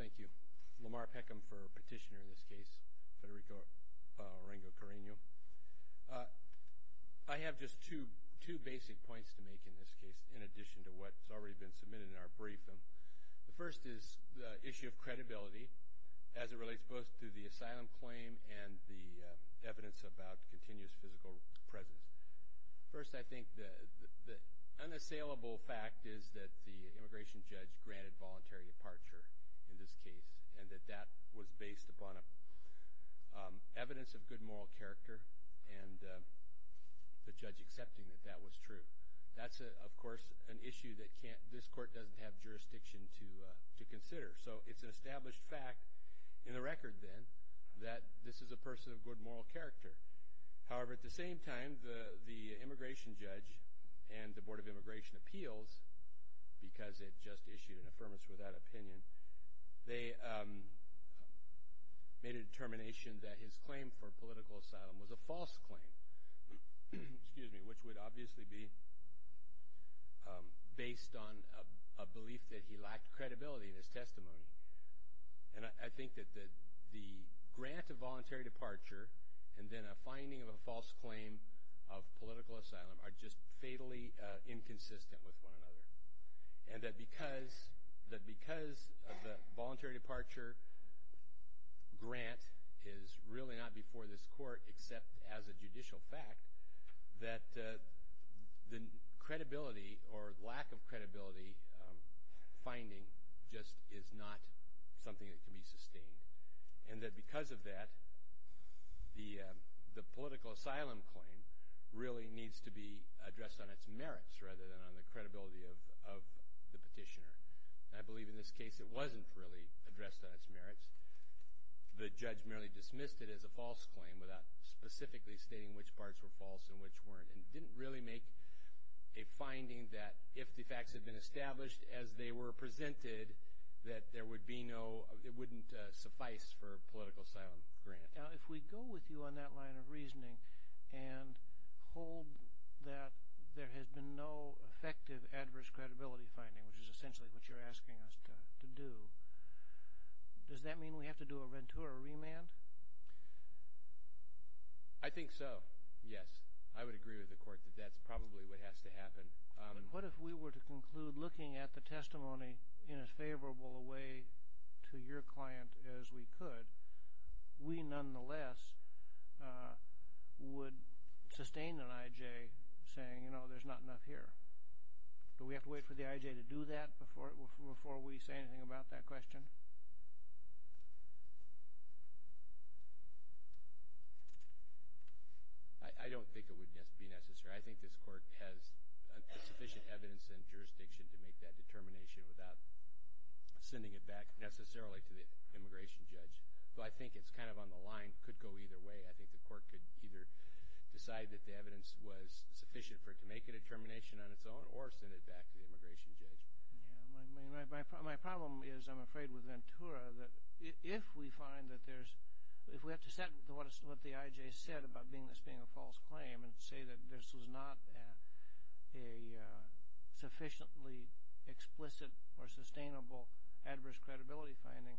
Thank you. Lamar Peckham for petitioner in this case. Federico Ringo Carino. I have just two basic points to make in this case in addition to what has already been submitted in our brief. The first is the issue of credibility as it relates both to the asylum claim and the evidence about continuous physical presence. First, I think the unassailable fact is that the immigration judge granted voluntary departure in this case and that that was based upon evidence of good moral character and the judge accepting that that was true. That's, of course, an issue that this court doesn't have jurisdiction to consider. So it's an established fact in the record then that this is a person of good moral character. However, at the same time, the immigration judge and the Board of Immigration Appeals, because it just issued an affirmation without opinion, they made a determination that his claim for political asylum was a false claim, which would obviously be based on a belief that he lacked credibility in his testimony. And I think that the grant of voluntary departure and then a finding of a false claim of political asylum are just fatally inconsistent with one another. And that because of the voluntary departure grant is really not before this court except as a judicial fact, that the credibility or lack of credibility finding just is not something that can be sustained. And that because of that, the political asylum claim really needs to be addressed on its merits rather than on the credibility of the petitioner. And I believe in this case it wasn't really addressed on its merits. The judge merely dismissed it as a false claim without specifically stating which parts were false and which weren't and didn't really make a finding that if the facts had been established as they were presented, that there would be no, it wouldn't suffice for a political asylum grant. Now, if we go with you on that line of reasoning and hold that there has been no effective adverse credibility finding, which is essentially what you're asking us to do, does that mean we have to do a Ventura remand? I think so, yes. I would agree with the court that that's probably what has to happen. But what if we were to conclude looking at the testimony in as favorable a way to your client as we could, we nonetheless would sustain an IJ saying, you know, there's not enough here. Do we have to wait for the IJ to do that before we say anything about that question? I don't think it would be necessary. I think this court has sufficient evidence and jurisdiction to make that determination without sending it back necessarily to the immigration judge. But I think it's kind of on the line, could go either way. I think the court could either decide that the evidence was sufficient for it to make a determination on its own or send it back to the immigration judge. My problem is, I'm afraid, with Ventura that if we find that there's, if we have to set what the IJ said about this being a false claim and say that this was not a sufficiently explicit or sustainable adverse credibility finding,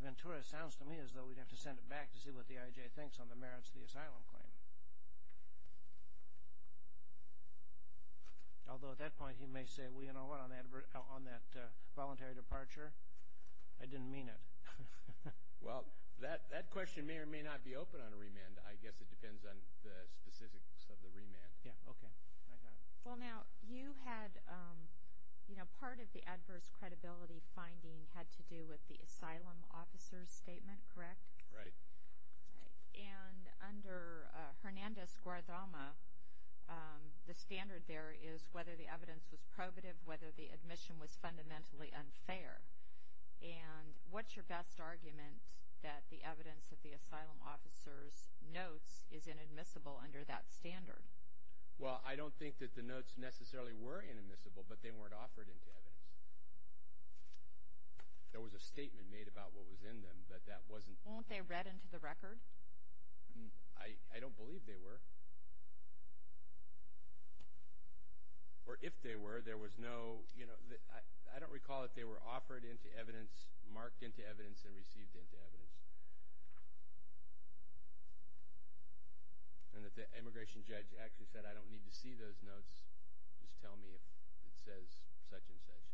Ventura sounds to me as though we'd have to send it back to see what the IJ thinks on the merits of the asylum claim. Although at that point he may say, well, you know what, on that voluntary departure, I didn't mean it. Well, that question may or may not be open on a remand. I guess it depends on the specifics of the remand. Yeah, okay. Well, now, you had, you know, part of the adverse credibility finding had to do with the asylum officer's statement, correct? Right. And under Hernandez-Guardama, the standard there is whether the evidence was probative, whether the admission was fundamentally unfair. And what's your best argument that the evidence of the asylum officer's notes is inadmissible under that standard? Well, I don't think that the notes necessarily were inadmissible, but they weren't offered into evidence. There was a statement made about what was in them, but that wasn't. Weren't they read into the record? I don't believe they were. Or if they were, there was no, you know, I don't recall if they were offered into evidence, marked into evidence, and received into evidence. And if the immigration judge actually said, I don't need to see those notes, just tell me if it says such and such.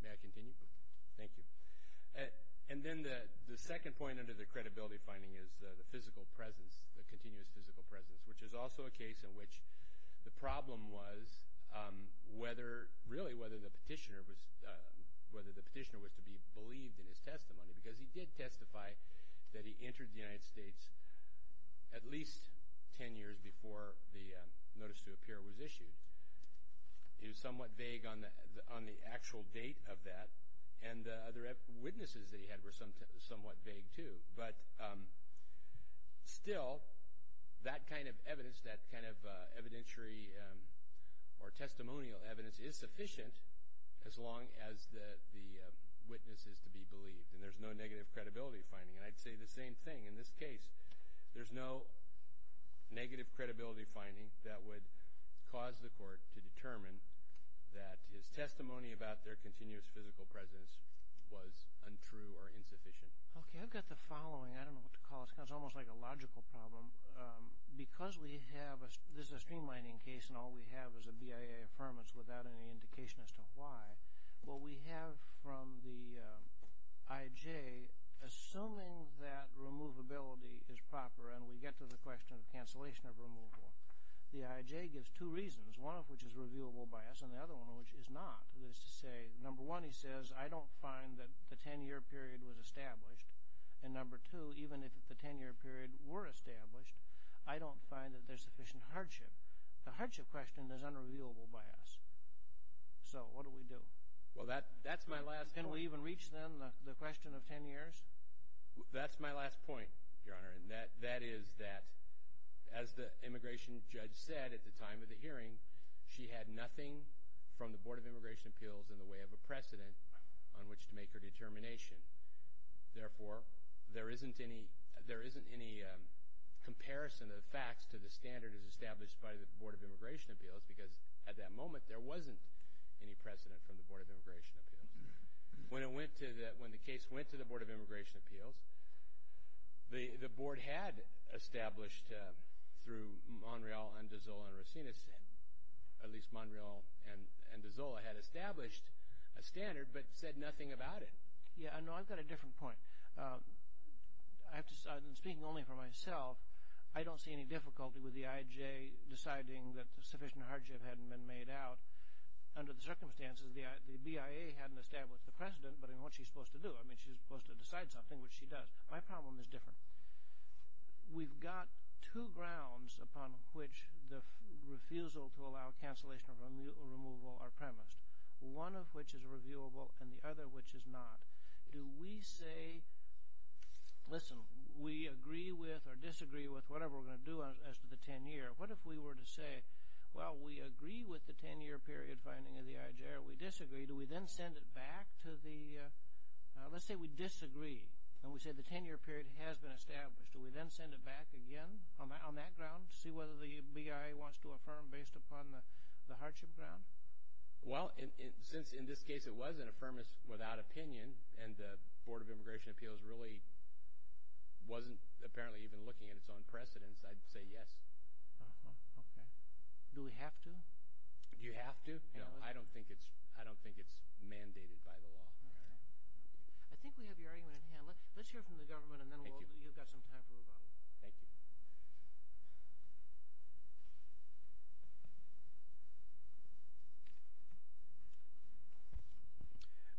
May I continue? Thank you. And then the second point under the credibility finding is the physical presence, the continuous physical presence, which is also a case in which the problem was whether, really, whether the petitioner was to be believed in his testimony, because he did testify that he entered the United States at least ten years before the notice to appear was issued. It was somewhat vague on the actual date of that, and the other witnesses that he had were somewhat vague, too. But still, that kind of evidence, that kind of evidentiary or testimonial evidence is sufficient as long as the witness is to be believed, and there's no negative credibility finding. And I'd say the same thing. In this case, there's no negative credibility finding that would cause the court to determine that his testimony about their continuous physical presence was untrue or insufficient. Okay. I've got the following. I don't know what to call it. It's almost like a logical problem. Because we have a, this is a streamlining case, and all we have is a BIA affirmance without any indication as to why. Well, we have from the IJ, assuming that removability is proper and we get to the question of cancellation of removal, the IJ gives two reasons, one of which is revealable by us and the other one of which is not. That is to say, number one, he says, I don't find that the ten-year period was established, and number two, even if the ten-year period were established, I don't find that there's sufficient hardship. The hardship question is unrevealable by us. So what do we do? Well, that's my last point. Can we even reach, then, the question of ten years? That's my last point, Your Honor, and that is that as the immigration judge said at the time of the hearing, she had nothing from the Board of Immigration Appeals in the way of a precedent on which to make her determination. Therefore, there isn't any comparison of facts to the standard as established by the Board of Immigration Appeals because at that moment there wasn't any precedent from the Board of Immigration Appeals. When the case went to the Board of Immigration Appeals, the Board had established through Monreal and DiZola and Racines, at least Monreal and DiZola had established a standard but said nothing about it. Yeah, no, I've got a different point. I'm speaking only for myself. I don't see any difficulty with the IJ deciding that sufficient hardship hadn't been made out. Under the circumstances, the BIA hadn't established the precedent, but what's she supposed to do? I mean, she's supposed to decide something, which she does. My problem is different. We've got two grounds upon which the refusal to allow cancellation or removal are premised, one of which is reviewable and the other which is not. Do we say, listen, we agree with or disagree with whatever we're going to do as to the 10-year. What if we were to say, well, we agree with the 10-year period finding of the IJ or we disagree, do we then send it back to the, let's say we disagree and we say the 10-year period has been established, do we then send it back again on that ground to see whether the BIA wants to affirm based upon the hardship ground? Well, since in this case it was an affirmance without opinion and the Board of Immigration Appeals really wasn't apparently even looking at its own precedence, I'd say yes. Okay. Do we have to? Do you have to? No, I don't think it's mandated by the law. I think we have your argument in hand. Let's hear from the government and then you've got some time for rebuttal. Thank you.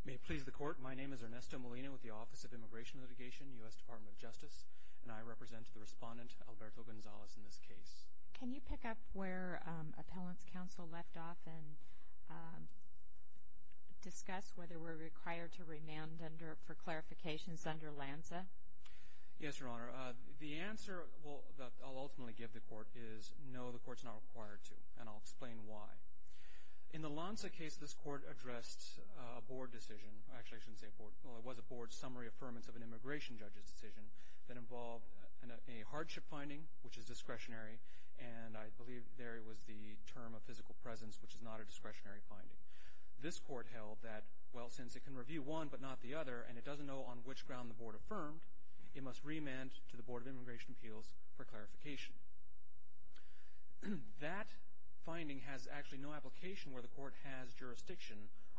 May it please the Court, my name is Ernesto Molina with the Office of Immigration Litigation, U.S. Department of Justice, and I represent the respondent, Alberto Gonzalez, in this case. Can you pick up where Appellant's Counsel left off and discuss whether we're required to remand for clarifications under LANSA? Yes, Your Honor. The answer that I'll ultimately give the Court is no, the Court's not required to, and I'll explain why. In the LANSA case, this Court addressed a Board decision. Actually, I shouldn't say Board. Well, it was a Board summary affirmance of an immigration judge's decision that involved a hardship finding, which is discretionary, and I believe there it was the term of physical presence, which is not a discretionary finding. This Court held that, well, since it can review one but not the other and it doesn't know on which ground the Board affirmed, it must remand to the Board of Immigration Appeals for clarification. That finding has actually no application where the Court has jurisdiction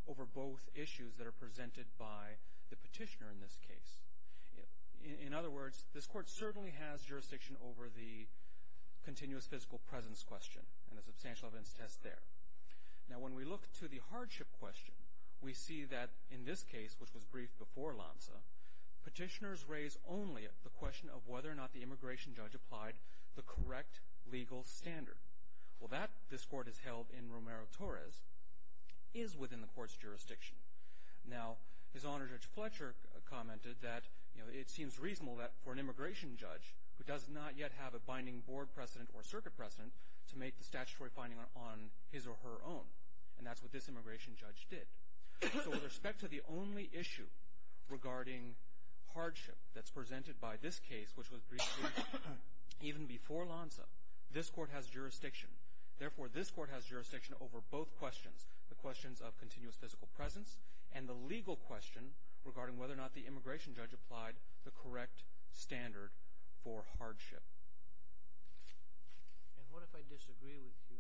over both issues that are presented by the petitioner in this case. In other words, this Court certainly has jurisdiction over the continuous physical presence question and the substantial events test there. Now, when we look to the hardship question, we see that in this case, which was briefed before LANSA, petitioners raise only the question of whether or not the immigration judge applied the correct legal standard. Well, that, this Court has held in Romero-Torres, is within the Court's jurisdiction. Now, His Honor Judge Fletcher commented that it seems reasonable that for an immigration judge who does not yet have a binding Board precedent or circuit precedent to make the statutory finding on his or her own, and that's what this immigration judge did. So with respect to the only issue regarding hardship that's presented by this case, which was briefed even before LANSA, this Court has jurisdiction. Therefore, this Court has jurisdiction over both questions, the questions of continuous physical presence and the legal question regarding whether or not the immigration judge applied the correct standard for hardship. And what if I disagree with you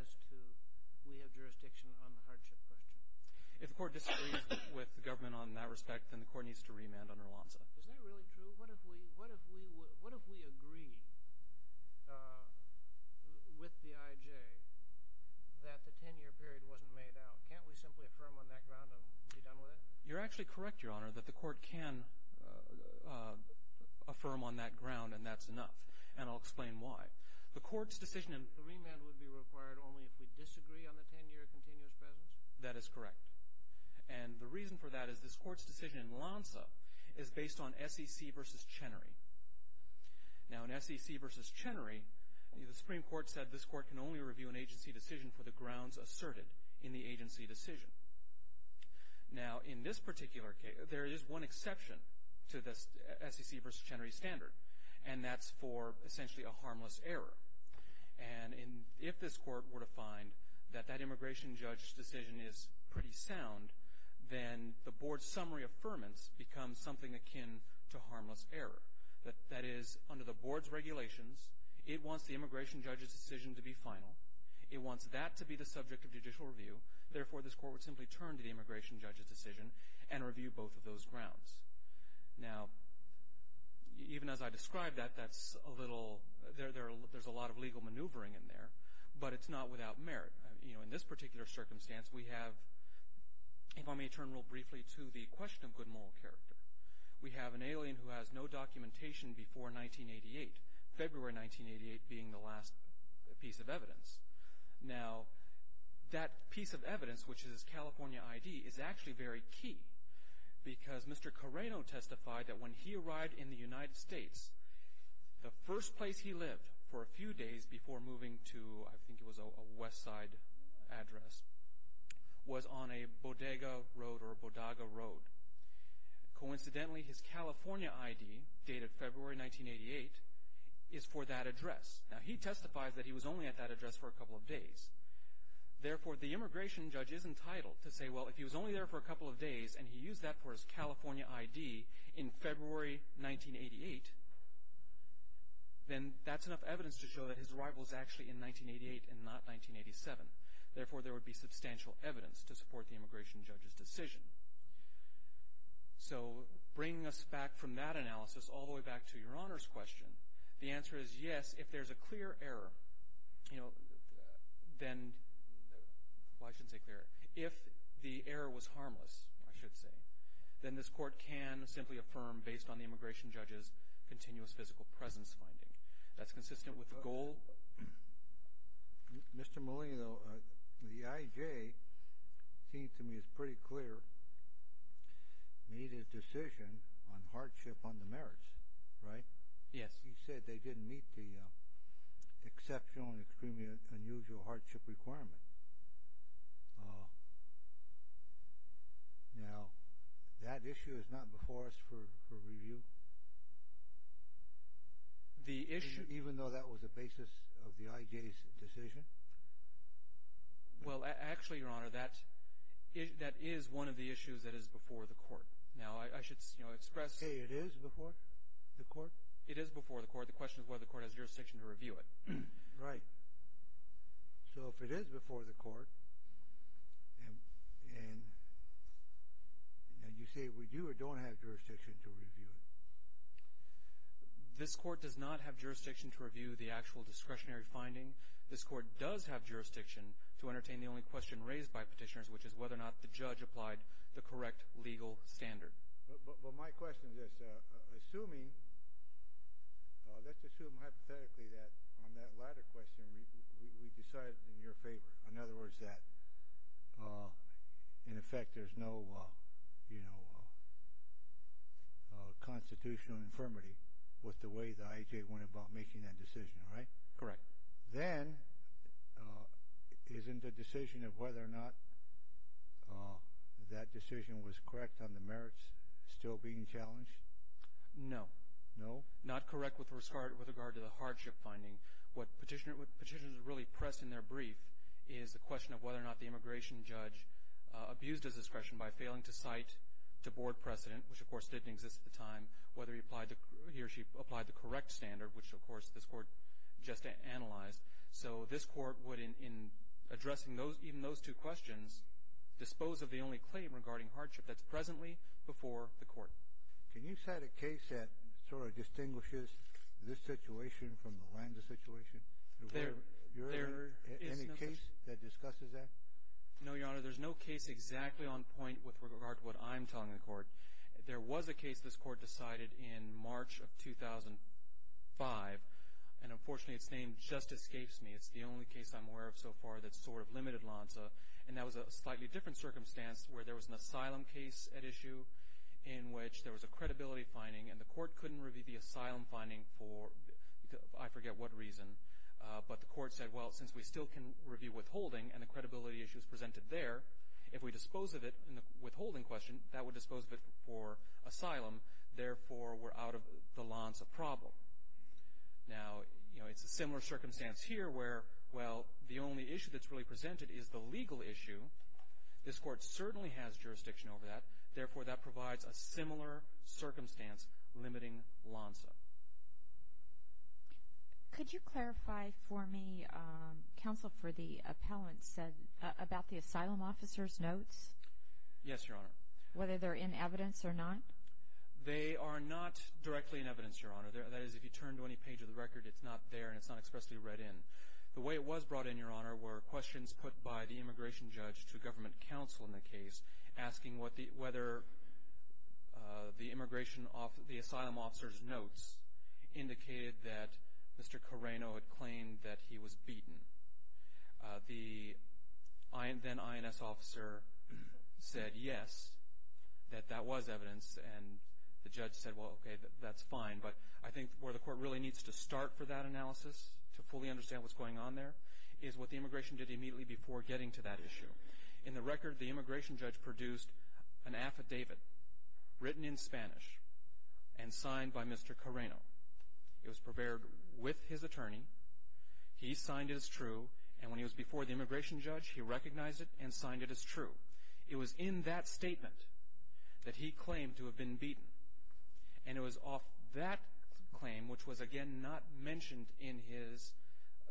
as to we have jurisdiction on the hardship question? If the Court disagrees with the government on that respect, then the Court needs to remand under LANSA. Is that really true? What if we agree with the IJ that the 10-year period wasn't made out? Can't we simply affirm on that ground and be done with it? You're actually correct, Your Honor, that the Court can affirm on that ground, and that's enough. And I'll explain why. The Court's decision in… The remand would be required only if we disagree on the 10-year continuous presence? That is correct. And the reason for that is this Court's decision in LANSA is based on SEC v. Chenery. Now, in SEC v. Chenery, the Supreme Court said this Court can only review an agency decision for the grounds asserted in the agency decision. Now, in this particular case, there is one exception to the SEC v. Chenery standard, and that's for essentially a harmless error. And if this Court were to find that that immigration judge's decision is pretty sound, then the Board's summary affirmance becomes something akin to harmless error. That is, under the Board's regulations, it wants the immigration judge's decision to be final. It wants that to be the subject of judicial review. Therefore, this Court would simply turn to the immigration judge's decision and review both of those grounds. Now, even as I describe that, that's a little… there's a lot of legal maneuvering in there, but it's not without merit. You know, in this particular circumstance, we have… If I may turn real briefly to the question of good moral character, we have an alien who has no documentation before 1988, February 1988 being the last piece of evidence. Now, that piece of evidence, which is his California ID, is actually very key because Mr. Carreno testified that when he arrived in the United States, the first place he lived for a few days before moving to, I think it was a west side address, was on a Bodega Road or Bodaga Road. Coincidentally, his California ID, dated February 1988, is for that address. Now, he testifies that he was only at that address for a couple of days. Therefore, the immigration judge is entitled to say, well, if he was only there for a couple of days and he used that for his California ID in February 1988, then that's enough evidence to show that his arrival is actually in 1988 and not 1987. Therefore, there would be substantial evidence to support the immigration judge's decision. So, bringing us back from that analysis all the way back to Your Honor's question, the answer is yes, if there's a clear error, you know, then, well, I shouldn't say clear. If the error was harmless, I should say, then this court can simply affirm based on the immigration judge's continuous physical presence finding. That's consistent with the goal. Mr. Molino, the IJ seems to me is pretty clear, made his decision on hardship on the merits, right? Yes. He said they didn't meet the exceptional and extremely unusual hardship requirement. Now, that issue is not before us for review? The issue – Even though that was the basis of the IJ's decision? Well, actually, Your Honor, that is one of the issues that is before the court. Now, I should express – You say it is before the court? It is before the court. The question is whether the court has jurisdiction to review it. Right. So, if it is before the court, and you say we do or don't have jurisdiction to review it? This court does not have jurisdiction to review the actual discretionary finding. This court does have jurisdiction to entertain the only question raised by petitioners, which is whether or not the judge applied the correct legal standard. But my question is this. Assuming – let's assume hypothetically that on that latter question we decided in your favor. In other words, that in effect there is no constitutional infirmity with the way the IJ went about making that decision, right? Correct. Then, isn't the decision of whether or not that decision was correct on the merits still being challenged? No. No? Not correct with regard to the hardship finding. What petitioners really press in their brief is the question of whether or not the immigration judge abused his discretion by failing to cite the board precedent, which, of course, didn't exist at the time, whether he or she applied the correct standard, which, of course, this court just analyzed. So this court would, in addressing even those two questions, dispose of the only claim regarding hardship that's presently before the court. Can you cite a case that sort of distinguishes this situation from the Landa situation? Is there any case that discusses that? No, Your Honor. There's no case exactly on point with regard to what I'm telling the court. There was a case this court decided in March of 2005, and, unfortunately, its name just escapes me. It's the only case I'm aware of so far that sort of limited Lanza, and that was a slightly different circumstance where there was an asylum case at issue in which there was a credibility finding, and the court couldn't review the asylum finding for I forget what reason, but the court said, well, since we still can review withholding and the credibility issue is presented there, if we dispose of it in the withholding question, that would dispose of it for asylum. Therefore, we're out of the Lanza problem. Now, you know, it's a similar circumstance here where, well, the only issue that's really presented is the legal issue. This court certainly has jurisdiction over that. Therefore, that provides a similar circumstance limiting Lanza. Could you clarify for me, counsel, for the appellant said about the asylum officer's notes? Yes, Your Honor. Whether they're in evidence or not? They are not directly in evidence, Your Honor. That is, if you turn to any page of the record, it's not there and it's not expressly read in. The way it was brought in, Your Honor, were questions put by the immigration judge to government counsel in the case, asking whether the asylum officer's notes indicated that Mr. Carreno had claimed that he was beaten. The then INS officer said yes, that that was evidence, and the judge said, well, okay, that's fine. But I think where the court really needs to start for that analysis, to fully understand what's going on there, is what the immigration did immediately before getting to that issue. In the record, the immigration judge produced an affidavit written in Spanish and signed by Mr. Carreno. It was prepared with his attorney. He signed it as true, and when he was before the immigration judge, he recognized it and signed it as true. It was in that statement that he claimed to have been beaten, and it was off that claim, which was, again, not mentioned in his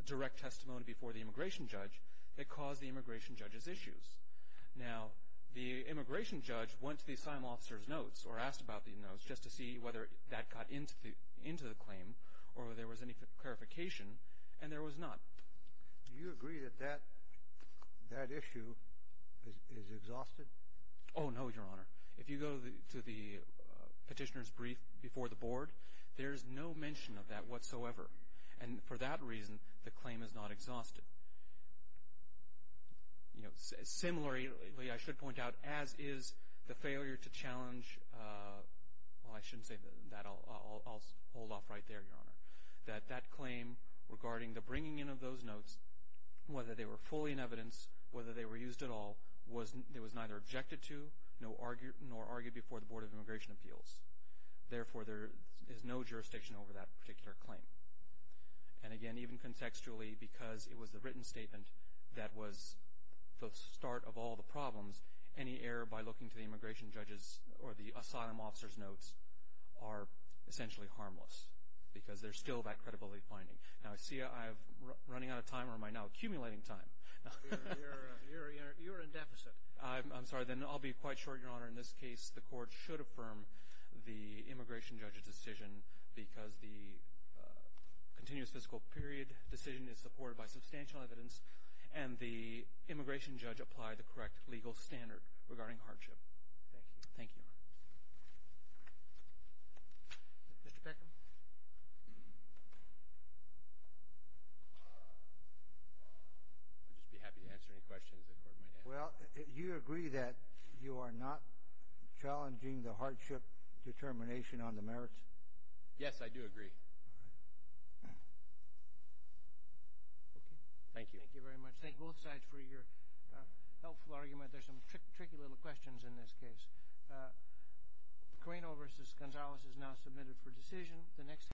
direct testimony before the immigration judge, that caused the immigration judge's issues. Now, the immigration judge went to the asylum officer's notes, or asked about the notes, just to see whether that got into the claim or whether there was any clarification, and there was not. Do you agree that that issue is exhausted? Oh, no, Your Honor. If you go to the petitioner's brief before the board, there's no mention of that whatsoever, and for that reason, the claim is not exhausted. Similarly, I should point out, as is the failure to challenge, well, I shouldn't say that. I'll hold off right there, Your Honor. That that claim regarding the bringing in of those notes, whether they were fully in evidence, whether they were used at all, it was neither objected to nor argued before the Board of Immigration Appeals. Therefore, there is no jurisdiction over that particular claim. And again, even contextually, because it was the written statement that was the start of all the problems, any error by looking to the immigration judge's or the asylum officer's notes are essentially harmless because there's still that credibility finding. Now, I see I'm running out of time, or am I now accumulating time? You're in deficit. I'm sorry. Then I'll be quite short, Your Honor. In this case, the court should affirm the immigration judge's decision because the continuous fiscal period decision is supported by substantial evidence, and the immigration judge applied the correct legal standard regarding hardship. Thank you. Thank you, Your Honor. Mr. Peckham? I'd just be happy to answer any questions the Court might have. Well, you agree that you are not challenging the hardship determination on the merits? Yes, I do agree. All right. Okay. Thank you. Thank you very much. Thank both sides for your helpful argument. There's some tricky little questions in this case.